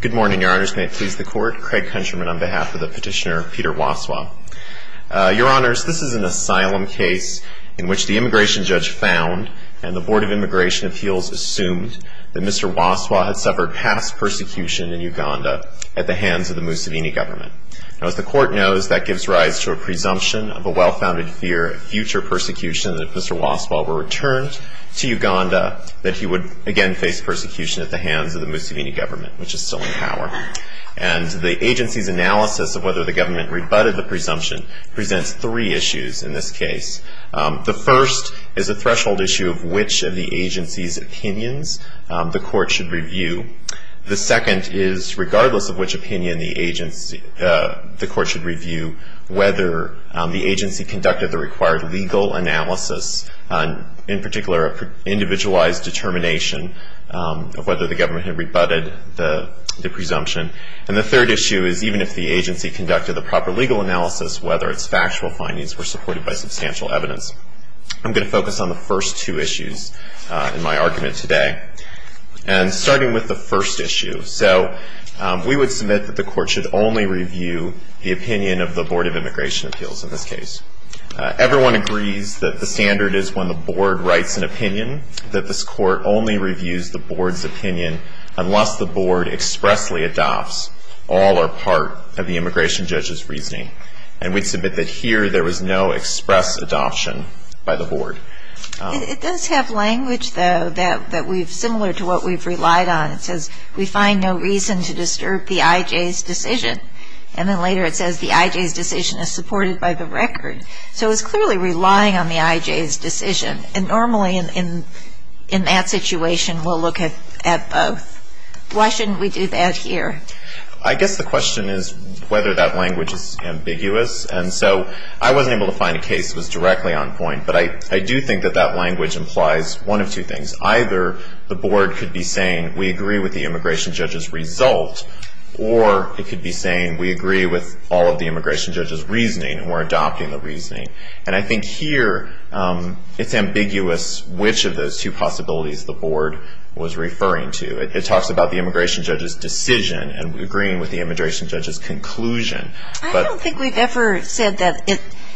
Good morning, Your Honors. May it please the Court. Craig Countryman on behalf of the petitioner, Peter Waswa. Your Honors, this is an asylum case in which the immigration judge found and the Board of Immigration Appeals assumed that Mr. Waswa had suffered past persecution in Uganda at the hands of the Museveni government. Now, as the Court knows, that gives rise to a presumption of a well-founded fear of future persecution that if Mr. Waswa were returned to Uganda that he would again face persecution at the hands of the Museveni government, which is still in power. And the agency's analysis of whether the government rebutted the presumption presents three issues in this case. The first is a threshold issue of which of the agency's opinions the Court should review. The second is regardless of which opinion the agency, the Court should review whether the agency conducted the required legal analysis, in particular, an individualized determination of whether the government had rebutted the presumption. And the third issue is even if the agency conducted the proper legal analysis, whether its factual findings were supported by substantial evidence. I'm going to focus on the first two issues in my argument today. And starting with the first issue, so we would submit that the Court should only review the opinion of the Board of Immigration Appeals in this case. Everyone agrees that the standard is when the Board writes an opinion that this Court only reviews the Board's opinion unless the Board expressly adopts all or part of the immigration judge's reasoning. And we'd submit that here there was no express adoption by the Board. It does have language, though, that we've similar to what we've relied on. It says we find no reason to disturb the I.J.'s decision. And then later it says the I.J.'s decision is supported by the record. So it's clearly relying on the I.J.'s decision. And normally in that situation we'll look at both. Why shouldn't we do that here? I guess the question is whether that language is ambiguous. And so I wasn't able to find a case that was directly on point. But I do think that that language implies one of two things. Either the Board could be saying we agree with the immigration judge's result, or it could be saying we agree with all of the immigration judge's reasoning and we're adopting the reasoning. And I think here it's ambiguous which of those two possibilities the Board was referring to. It talks about the immigration judge's decision and agreeing with the immigration judge's conclusion. I don't think we've ever said that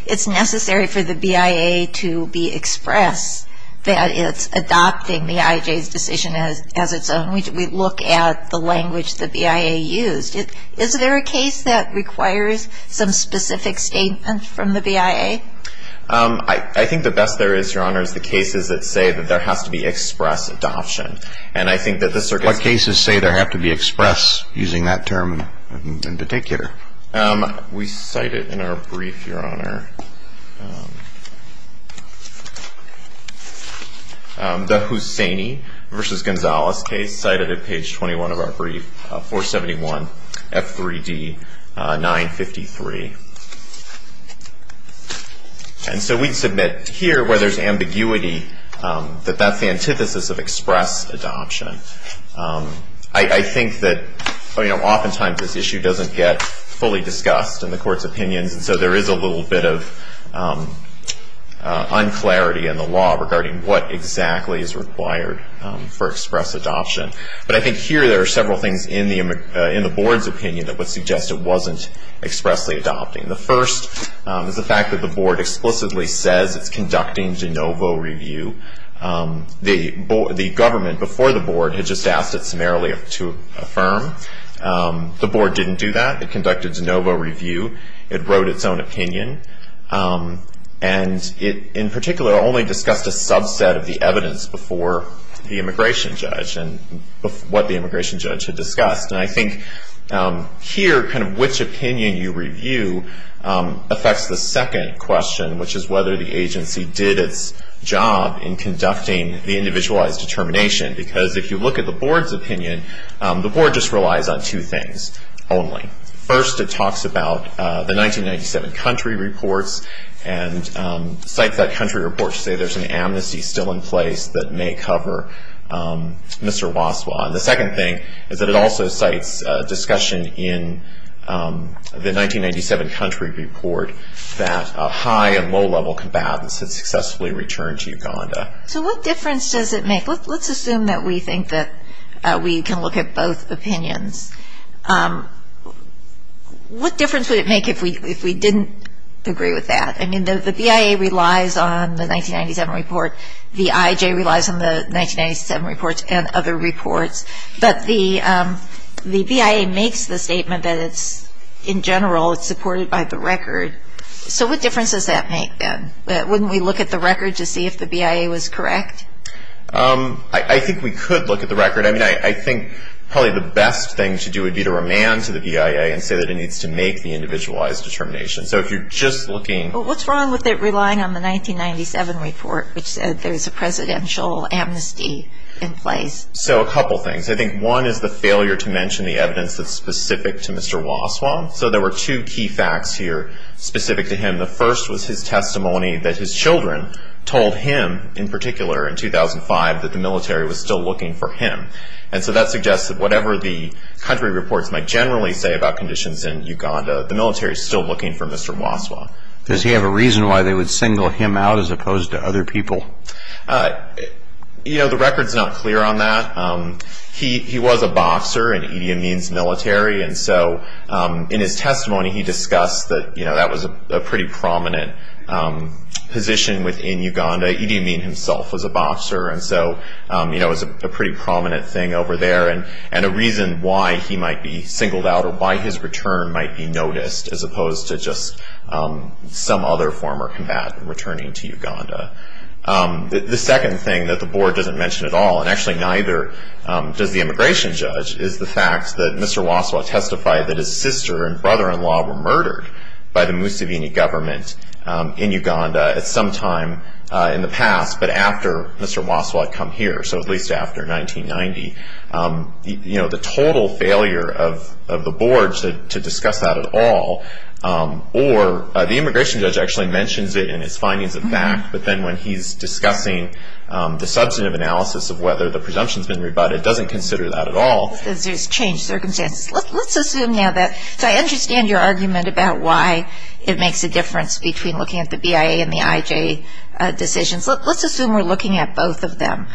it's necessary for the BIA to be express, that it's adopting the I.J.'s decision as its own. We look at the language the BIA used. Is there a case that requires some specific statement from the BIA? I think the best there is, Your Honor, is the cases that say that there has to be express adoption. And I think that this circumstance What cases say there have to be express, using that term in particular? We cite it in our brief, Your Honor. The Hussaini v. Gonzalez case, cited at page 21 of our brief, 471 F3D 953. And so we submit here where there's ambiguity that that's the antithesis of express adoption. I think that oftentimes this issue doesn't get fully discussed in the Court's opinions, and so there is a little bit of unclarity in the law regarding what exactly is required for express adoption. But I think here there are several things in the Board's opinion that would suggest it wasn't expressly adopting. The first is the fact that the Board explicitly says it's conducting de novo review. The government before the Board had just asked it summarily to affirm. The Board didn't do that. It conducted de novo review. It wrote its own opinion. And it, in particular, only discussed a subset of the evidence before the immigration judge and what the immigration judge had discussed. And I think here kind of which opinion you review affects the second question, which is whether the agency did its job in conducting the individualized determination. Because if you look at the Board's opinion, the Board just relies on two things only. First, it talks about the 1997 country reports and cites that country report to say there's an amnesty still in place that may cover Mr. Waswa. The second thing is that it also cites discussion in the 1997 country report that high- and low-level combatants had successfully returned to Uganda. So what difference does it make? Let's assume that we think that we can look at both opinions. What difference would it make if we didn't agree with that? I mean, the BIA relies on the 1997 report. The IJ relies on the 1997 reports and other reports. But the BIA makes the statement that it's, in general, it's supported by the record. So what difference does that make then? Wouldn't we look at the record to see if the BIA was correct? I think we could look at the record. I mean, I think probably the best thing to do would be to remand to the BIA and say that it needs to make the individualized determination. So if you're just looking. What's wrong with it relying on the 1997 report, which said there's a presidential amnesty in place? So a couple things. I think one is the failure to mention the evidence that's specific to Mr. Waswa. So there were two key facts here specific to him. The first was his testimony that his children told him, in particular, in 2005, that the military was still looking for him. And so that suggests that whatever the country reports might generally say about conditions in Uganda, the military is still looking for Mr. Waswa. Does he have a reason why they would single him out as opposed to other people? You know, the record's not clear on that. He was a boxer in Idi Amin's military. And so in his testimony, he discussed that, you know, that was a pretty prominent position within Uganda. Idi Amin himself was a boxer. And so, you know, it was a pretty prominent thing over there. And a reason why he might be singled out or why his return might be noticed, as opposed to just some other former combatant returning to Uganda. The second thing that the board doesn't mention at all, and actually neither does the immigration judge, is the fact that Mr. Waswa testified that his sister and brother-in-law were murdered by the Museveni government in Uganda at some time in the past, but after Mr. Waswa had come here, so at least after 1990. You know, the total failure of the board to discuss that at all, or the immigration judge actually mentions it in his findings of fact, but then when he's discussing the substantive analysis of whether the presumption's been rebutted, doesn't consider that at all. There's changed circumstances. Let's assume now that, so I understand your argument about why it makes a difference between looking at the BIA and the IJ decisions. Let's assume we're looking at both of them.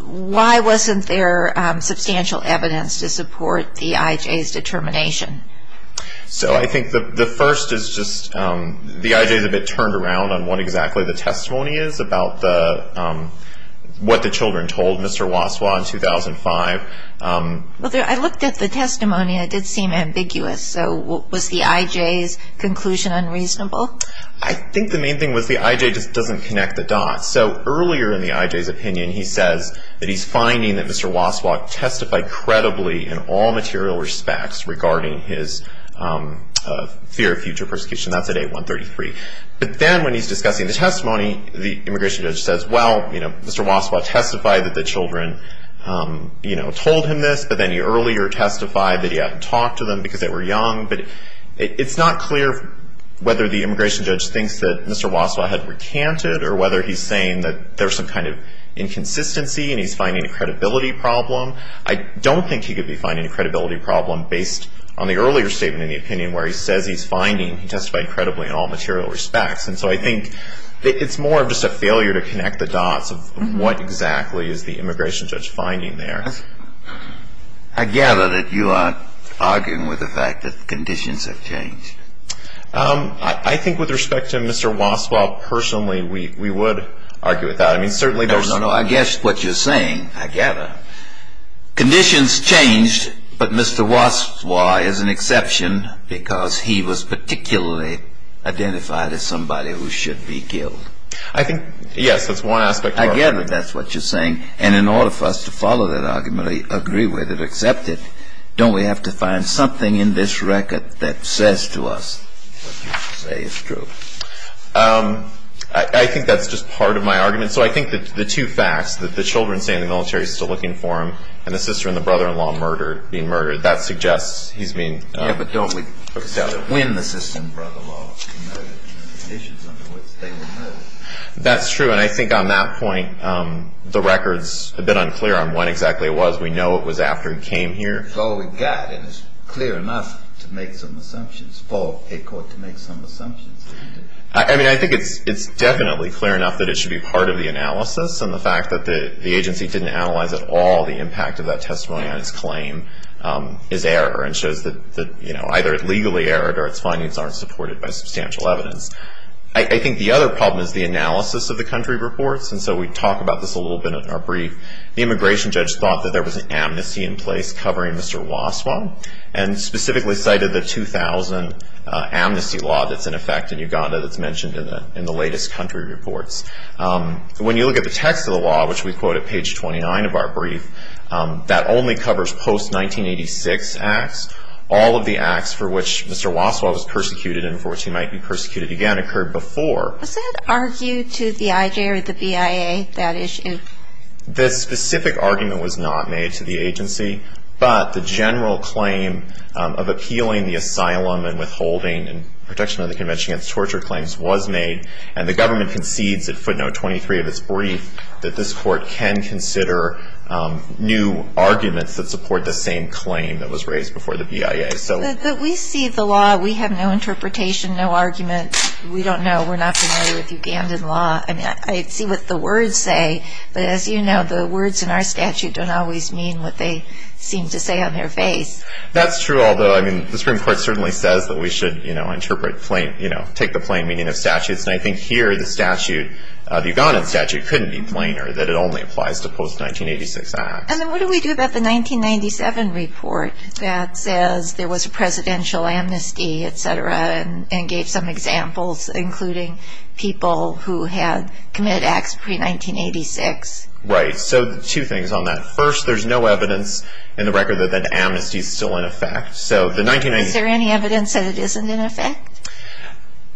Why wasn't there substantial evidence to support the IJ's determination? So I think the first is just the IJ's a bit turned around on what exactly the testimony is about what the children told Mr. Waswa in 2005. I looked at the testimony and it did seem ambiguous. So was the IJ's conclusion unreasonable? I think the main thing was the IJ just doesn't connect the dots. So earlier in the IJ's opinion he says that he's finding that Mr. Waswa testified credibly in all material respects regarding his fear of future persecution. That's at 8133. But then when he's discussing the testimony, the immigration judge says, well, you know, Mr. Waswa testified that the children, you know, told him this, but then he earlier testified that he hadn't talked to them because they were young. But it's not clear whether the immigration judge thinks that Mr. Waswa had recanted or whether he's saying that there's some kind of inconsistency and he's finding a credibility problem. I don't think he could be finding a credibility problem based on the earlier statement in the opinion where he says he's finding he testified credibly in all material respects. And so I think it's more of just a failure to connect the dots of what exactly is the immigration judge finding there. I gather that you aren't arguing with the fact that conditions have changed. I think with respect to Mr. Waswa, personally, we would argue with that. I mean, certainly there's no... No, no, no. I guess what you're saying, I gather, conditions changed, but Mr. Waswa is an exception because he was particularly identified as somebody who should be killed. I think, yes, that's one aspect. I gather that's what you're saying. And in order for us to follow that argument or agree with it, accept it, don't we have to find something in this record that says to us what you say is true? I think that's just part of my argument. So I think the two facts, that the children stay in the military still looking for him and the sister and the brother-in-law being murdered, that suggests he's being... Yeah, but don't we win the sister and brother-in-law in the conditions under which they were murdered? That's true. And I think on that point, the record's a bit unclear on when exactly it was. We know it was after he came here. It's all we've got, and it's clear enough to make some assumptions, for a court to make some assumptions. I mean, I think it's definitely clear enough that it should be part of the analysis, and the fact that the agency didn't analyze at all the impact of that testimony on his claim is error and shows that either it legally erred or its findings aren't supported by substantial evidence. I think the other problem is the analysis of the country reports, and so we talk about this a little bit in our brief. The immigration judge thought that there was an amnesty in place covering Mr. Waswa, and specifically cited the 2000 amnesty law that's in effect in Uganda that's mentioned in the latest country reports. When you look at the text of the law, which we quote at page 29 of our brief, that only covers post-1986 acts, all of the acts for which Mr. Waswa was persecuted and for which he might be persecuted again occurred before. Was that argued to the IJ or the BIA, that issue? The specific argument was not made to the agency, but the general claim of appealing the asylum and withholding and protection of the convention against torture claims was made, and the government concedes at footnote 23 of its brief that this court can consider new arguments that support the same claim that was raised before the BIA. But we see the law. We have no interpretation, no argument. We don't know. We're not familiar with Ugandan law. I mean, I see what the words say, but as you know, the words in our statute don't always mean what they seem to say on their face. That's true, although, I mean, the Supreme Court certainly says that we should, you know, take the plain meaning of statutes, and I think here the statute, the Ugandan statute, couldn't be plainer, that it only applies to post-1986 acts. And then what do we do about the 1997 report that says there was a presidential amnesty, et cetera, and gave some examples, including people who had committed acts pre-1986? Right. So two things on that. First, there's no evidence in the record that that amnesty is still in effect. Is there any evidence that it isn't in effect?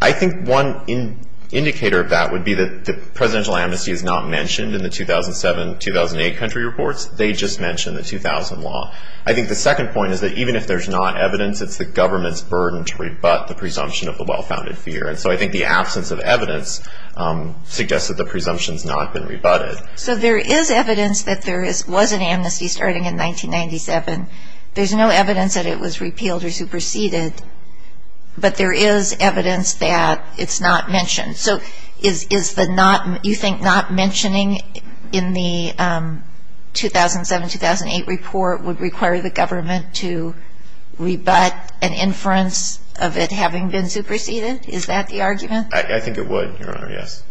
I think one indicator of that would be that the presidential amnesty is not mentioned in the 2007-2008 country reports. They just mention the 2000 law. I think the second point is that even if there's not evidence, it's the government's burden to rebut the presumption of a well-founded fear. And so I think the absence of evidence suggests that the presumption has not been rebutted. So there is evidence that there was an amnesty starting in 1997. There's no evidence that it was repealed or superseded, but there is evidence that it's not mentioned. So you think not mentioning in the 2007-2008 report would require the government to rebut an inference of it having been superseded? Is that the argument? I think it would, Your Honor, yes.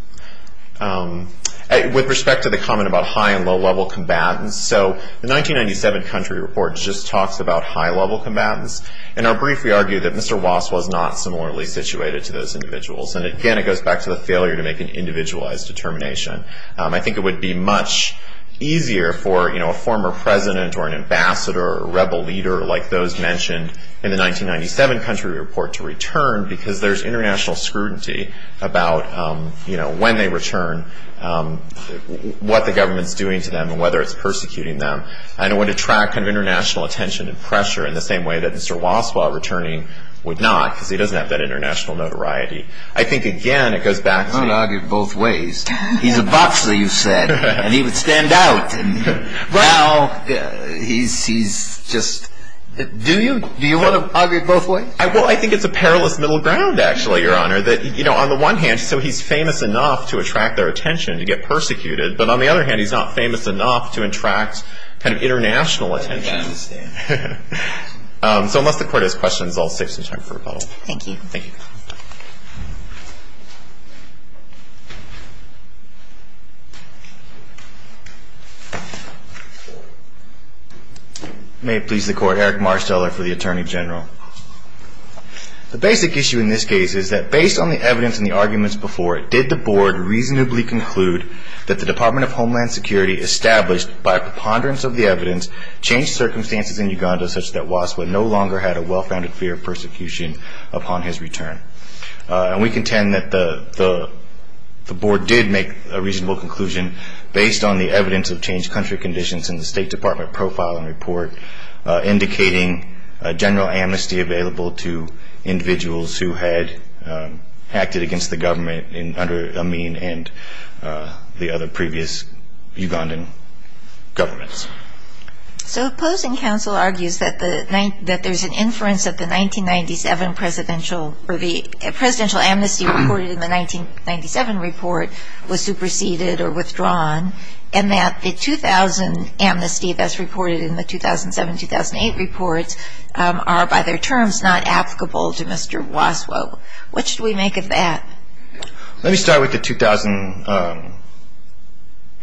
With respect to the comment about high- and low-level combatants, so the 1997 country report just talks about high-level combatants. In our brief, we argue that Mr. Wass was not similarly situated to those individuals. And, again, it goes back to the failure to make an individualized determination. I think it would be much easier for a former president or an ambassador or a rebel leader like those mentioned in the 1997 country report to return because there's international scrutiny about when they return, what the government's doing to them, and whether it's persecuting them. And it would attract international attention and pressure in the same way that Mr. Wass, while returning, would not because he doesn't have that international notoriety. I think, again, it goes back to the- I want to argue both ways. He's a boxer, you said, and he would stand out. And now he's just- Do you? Do you want to argue both ways? Well, I think it's a perilous middle ground, actually, Your Honor, that, you know, on the one hand, so he's famous enough to attract their attention to get persecuted. But, on the other hand, he's not famous enough to attract kind of international attention. I understand. So unless the Court has questions, I'll save some time for rebuttal. Thank you. Thank you. May it please the Court. Eric Marsteller for the Attorney General. The basic issue in this case is that, based on the evidence and the arguments before it, did the Board reasonably conclude that the Department of Homeland Security established, by a preponderance of the evidence, changed circumstances in Uganda such that Waspa no longer had a well-founded fear of persecution upon his return? And we contend that the Board did make a reasonable conclusion, based on the evidence of changed country conditions in the State Department profile and report, indicating general amnesty available to individuals who had acted against the government under Amin and the other previous Ugandan governments. So opposing counsel argues that there's an inference that the 1997 presidential or the presidential amnesty reported in the 1997 report was superseded or withdrawn and that the 2000 amnesty that's reported in the 2007-2008 reports are, by their terms, not applicable to Mr. Waspa. What should we make of that? Let me start with the 2000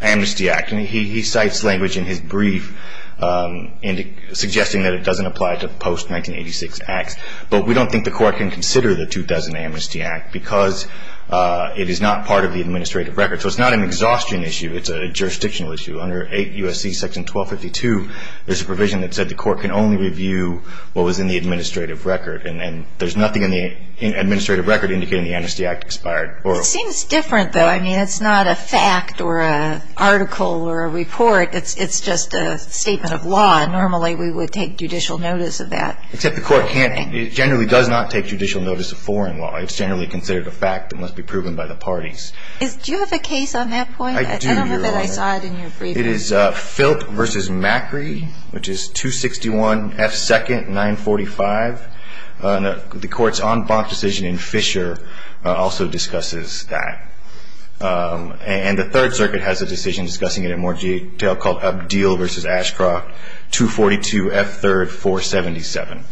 Amnesty Act. He cites language in his brief suggesting that it doesn't apply to post-1986 acts, but we don't think the Court can consider the 2000 Amnesty Act because it is not part of the administrative record. So it's not an exhaustion issue. It's a jurisdictional issue. Under 8 U.S.C. Section 1252, there's a provision that said the Court can only review what was in the administrative record, and there's nothing in the administrative record indicating the amnesty act expired. It seems different, though. I mean, it's not a fact or an article or a report. It's just a statement of law, and normally we would take judicial notice of that. Except the Court generally does not take judicial notice of foreign law. It's generally considered a fact and must be proven by the parties. Do you have a case on that point? I do, Your Honor. I don't know that I saw it in your briefing. It is Filt v. Macri, which is 261 F. 2nd, 945. The Court's en banc decision in Fisher also discusses that. And the Third Circuit has a decision discussing it in more detail called Abdeel v. Ashcroft, 242 F. 3rd, 477.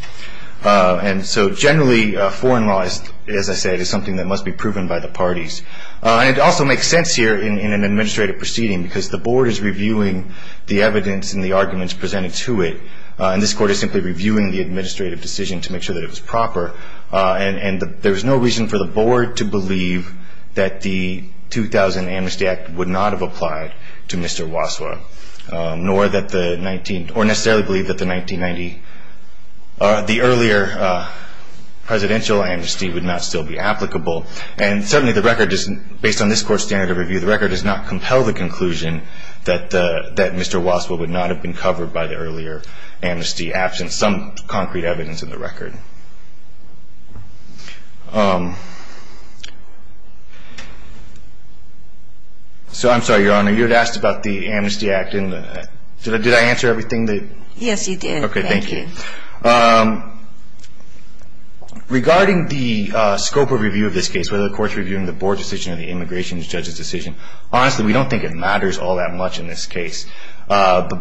And so generally, foreign law, as I said, is something that must be proven by the parties. And it also makes sense here in an administrative proceeding because the Board is reviewing the evidence and the arguments presented to it, and this Court is simply reviewing the administrative decision to make sure that it was proper. And there is no reason for the Board to believe that the 2000 Amnesty Act would not have applied to Mr. Waswa, nor necessarily believe that the earlier presidential amnesty would not still be applicable. And certainly, based on this Court's standard of review, the record does not compel the conclusion that Mr. Waswa would not have been covered by the earlier amnesty, absent some concrete evidence in the record. So I'm sorry, Your Honor, you had asked about the Amnesty Act. Did I answer everything? Yes, you did. Okay, thank you. Regarding the scope of review of this case, whether the Court is reviewing the Board's decision or the immigration judge's decision, honestly, we don't think it matters all that much in this case. The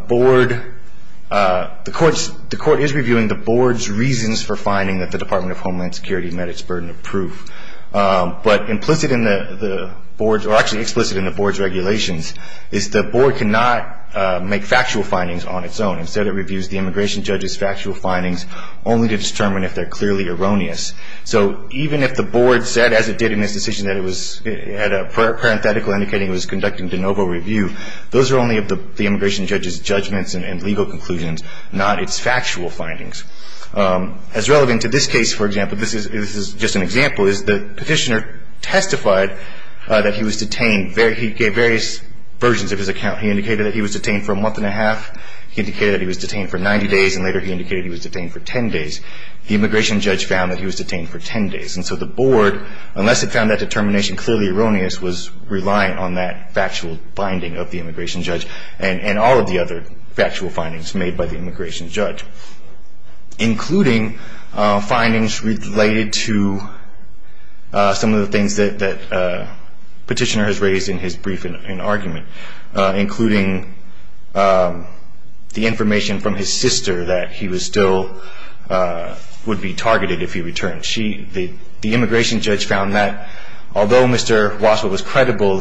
Court is reviewing the Board's reasons for finding that the Department of Homeland Security met its burden of proof. But implicit in the Board's, or actually explicit in the Board's regulations, is the Board cannot make factual findings on its own. Instead, it reviews the immigration judge's factual findings only to determine if they're clearly erroneous. So even if the Board said, as it did in this decision, that it was at a parenthetical indicating it was conducting de novo review, those are only of the immigration judge's judgments and legal conclusions, not its factual findings. As relevant to this case, for example, this is just an example, is the Petitioner testified that he was detained. He gave various versions of his account. He indicated that he was detained for a month and a half. He indicated that he was detained for 90 days. And later, he indicated he was detained for 10 days. The immigration judge found that he was detained for 10 days. And so the Board, unless it found that determination clearly erroneous, was relying on that factual finding of the immigration judge and all of the other factual findings made by the immigration judge, including findings related to some of the things that Petitioner has raised in his brief and argument, including the information from his sister that he still would be targeted if he returned. The immigration judge found that, although Mr. Waswell was credible,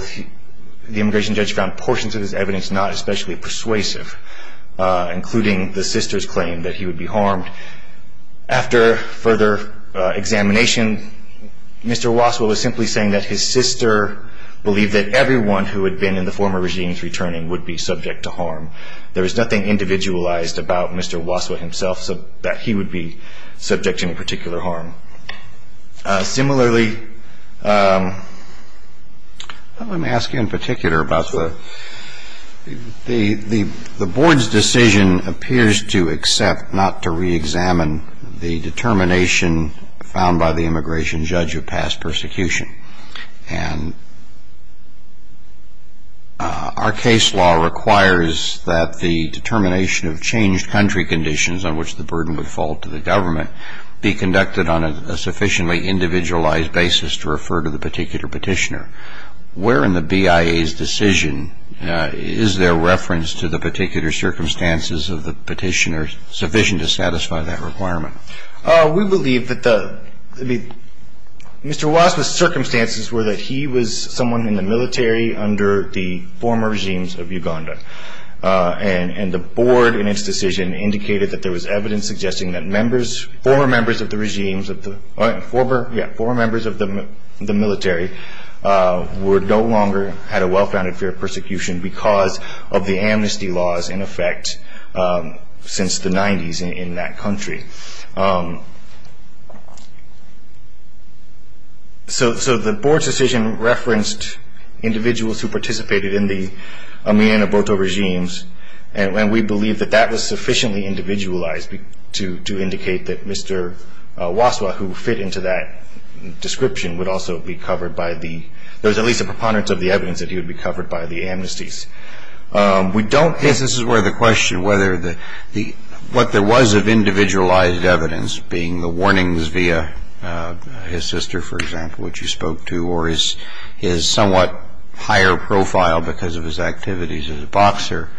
the immigration judge found portions of his evidence not especially persuasive, including the sister's claim that he would be harmed. After further examination, Mr. Waswell was simply saying that his sister believed that everyone who had been in the former regime's returning would be subject to harm. There was nothing individualized about Mr. Waswell himself, that he would be subject to any particular harm. Similarly, let me ask you in particular about the Board's decision, appears to accept not to reexamine the determination found by the immigration judge of past persecution. And our case law requires that the determination of changed country conditions on which the burden would fall to the government be conducted on a sufficiently individualized basis to refer to the particular petitioner. Where in the BIA's decision is there reference to the particular circumstances of the petitioner sufficient to satisfy that requirement? We believe that Mr. Waswell's circumstances were that he was someone in the military under the former regimes of Uganda. And the Board in its decision indicated that there was evidence suggesting that members, former members of the regime, former members of the military, would no longer have a well-founded fear of persecution because of the amnesty laws in effect since the 90s in that country. So the Board's decision referenced individuals who participated in the Amin and Aborto regimes, and we believe that that was sufficiently individualized to indicate that Mr. Waswell, who fit into that description, would also be covered by the, there was at least a preponderance of the evidence that he would be covered by the amnesties. We don't, this is where the question, whether the, what there was of individualized evidence, being the warnings via his sister, for example, which you spoke to, or his somewhat higher profile because of his activities as a boxer.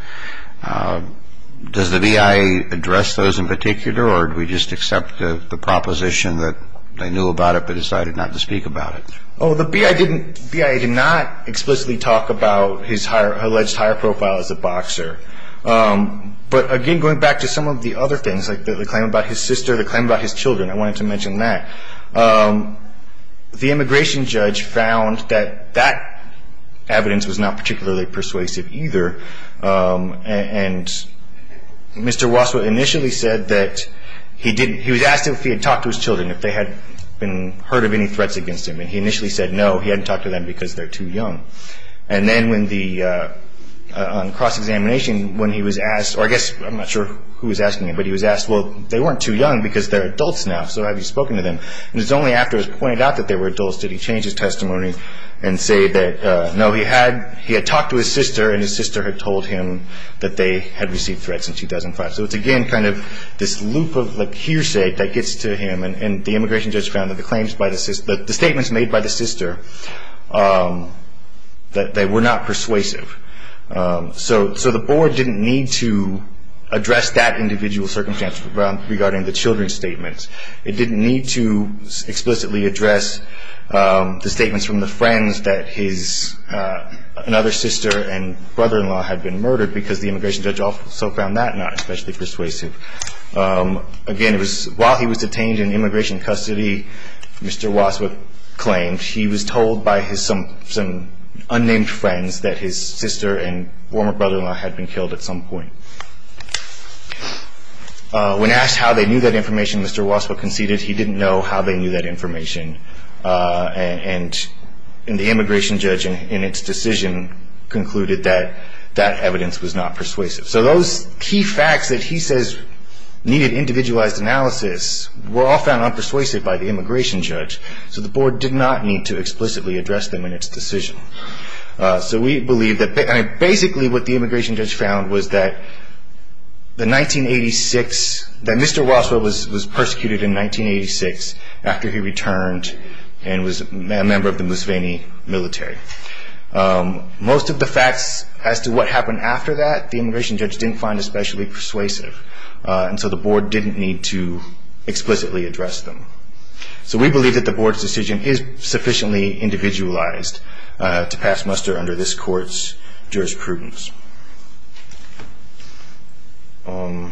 Does the BIA address those in particular, or do we just accept the proposition that they knew about it but decided not to speak about it? Oh, the BIA did not explicitly talk about his alleged higher profile as a boxer. But again, going back to some of the other things, like the claim about his sister, the claim about his children, I wanted to mention that. The immigration judge found that that evidence was not particularly persuasive either, and Mr. Waswell initially said that he was asked if he had talked to his children, if they had been, heard of any threats against him. And he initially said no, he hadn't talked to them because they're too young. And then when the, on cross-examination, when he was asked, or I guess, I'm not sure who was asking him, but he was asked, well, they weren't too young because they're adults now, so have you spoken to them? And it was only after it was pointed out that they were adults did he change his testimony and say that no, he had talked to his sister and his sister had told him that they had received threats in 2005. So it's, again, kind of this loop of hearsay that gets to him, and the immigration judge found that the claims by the sister, the statements made by the sister, that they were not persuasive. So the board didn't need to address that individual circumstance regarding the children's statements. It didn't need to explicitly address the statements from the friends that his, another sister and brother-in-law had been murdered because the immigration judge also found that not especially persuasive. Again, it was while he was detained in immigration custody, Mr. Waswick claimed he was told by some unnamed friends that his sister and former brother-in-law had been killed at some point. When asked how they knew that information, Mr. Waswick conceded he didn't know how they knew that information. And the immigration judge in its decision concluded that that evidence was not persuasive. So those key facts that he says needed individualized analysis were all found unpersuasive by the immigration judge, so the board did not need to explicitly address them in its decision. So we believe that basically what the immigration judge found was that the 1986, that Mr. Waswick was persecuted in 1986 after he returned and was a member of the Musveni military. Most of the facts as to what happened after that, the immigration judge didn't find especially persuasive, and so the board didn't need to explicitly address them. So we believe that the board's decision is sufficiently individualized to pass muster under this court's jurisprudence. Those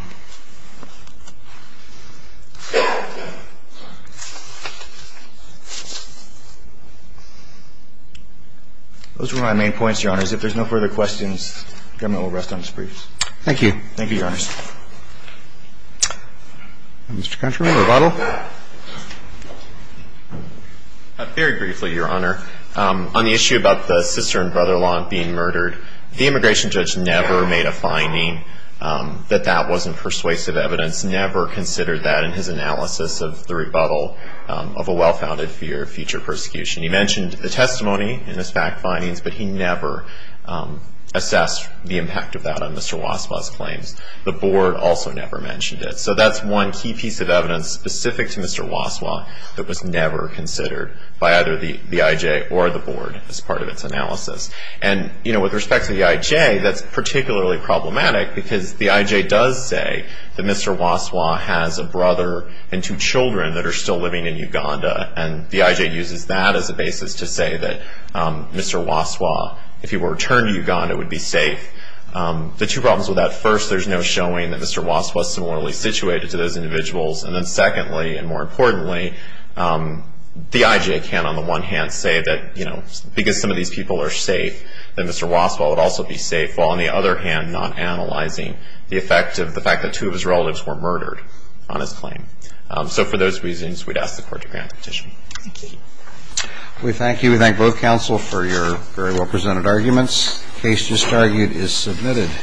were my main points, Your Honors. If there's no further questions, the government will rest on its briefs. Thank you. Thank you, Your Honors. Mr. Countryman, rebuttal. Very briefly, Your Honor. On the issue about the sister and brother-in-law being murdered, the immigration judge never made a finding that that wasn't persuasive evidence, never considered that in his analysis of the rebuttal of a well-founded fear of future persecution. He mentioned the testimony and his fact findings, but he never assessed the impact of that on Mr. Waswick's claims. The board also never mentioned it. So that's one key piece of evidence specific to Mr. Waswick that was never considered by either the IJ or the board as part of its analysis. And, you know, with respect to the IJ, that's particularly problematic, because the IJ does say that Mr. Waswick has a brother and two children that are still living in Uganda, and the IJ uses that as a basis to say that Mr. Waswick, if he were to return to Uganda, would be safe. The two problems with that, first, there's no showing that Mr. Waswick was similarly situated to those individuals. And then, secondly, and more importantly, the IJ can, on the one hand, say that, you know, because some of these people are safe, that Mr. Waswick would also be safe, while, on the other hand, not analyzing the effect of the fact that two of his relatives were murdered on his claim. So for those reasons, we'd ask the court to grant the petition. Thank you. We thank you. We thank both counsel for your very well-presented arguments. The case just argued is submitted.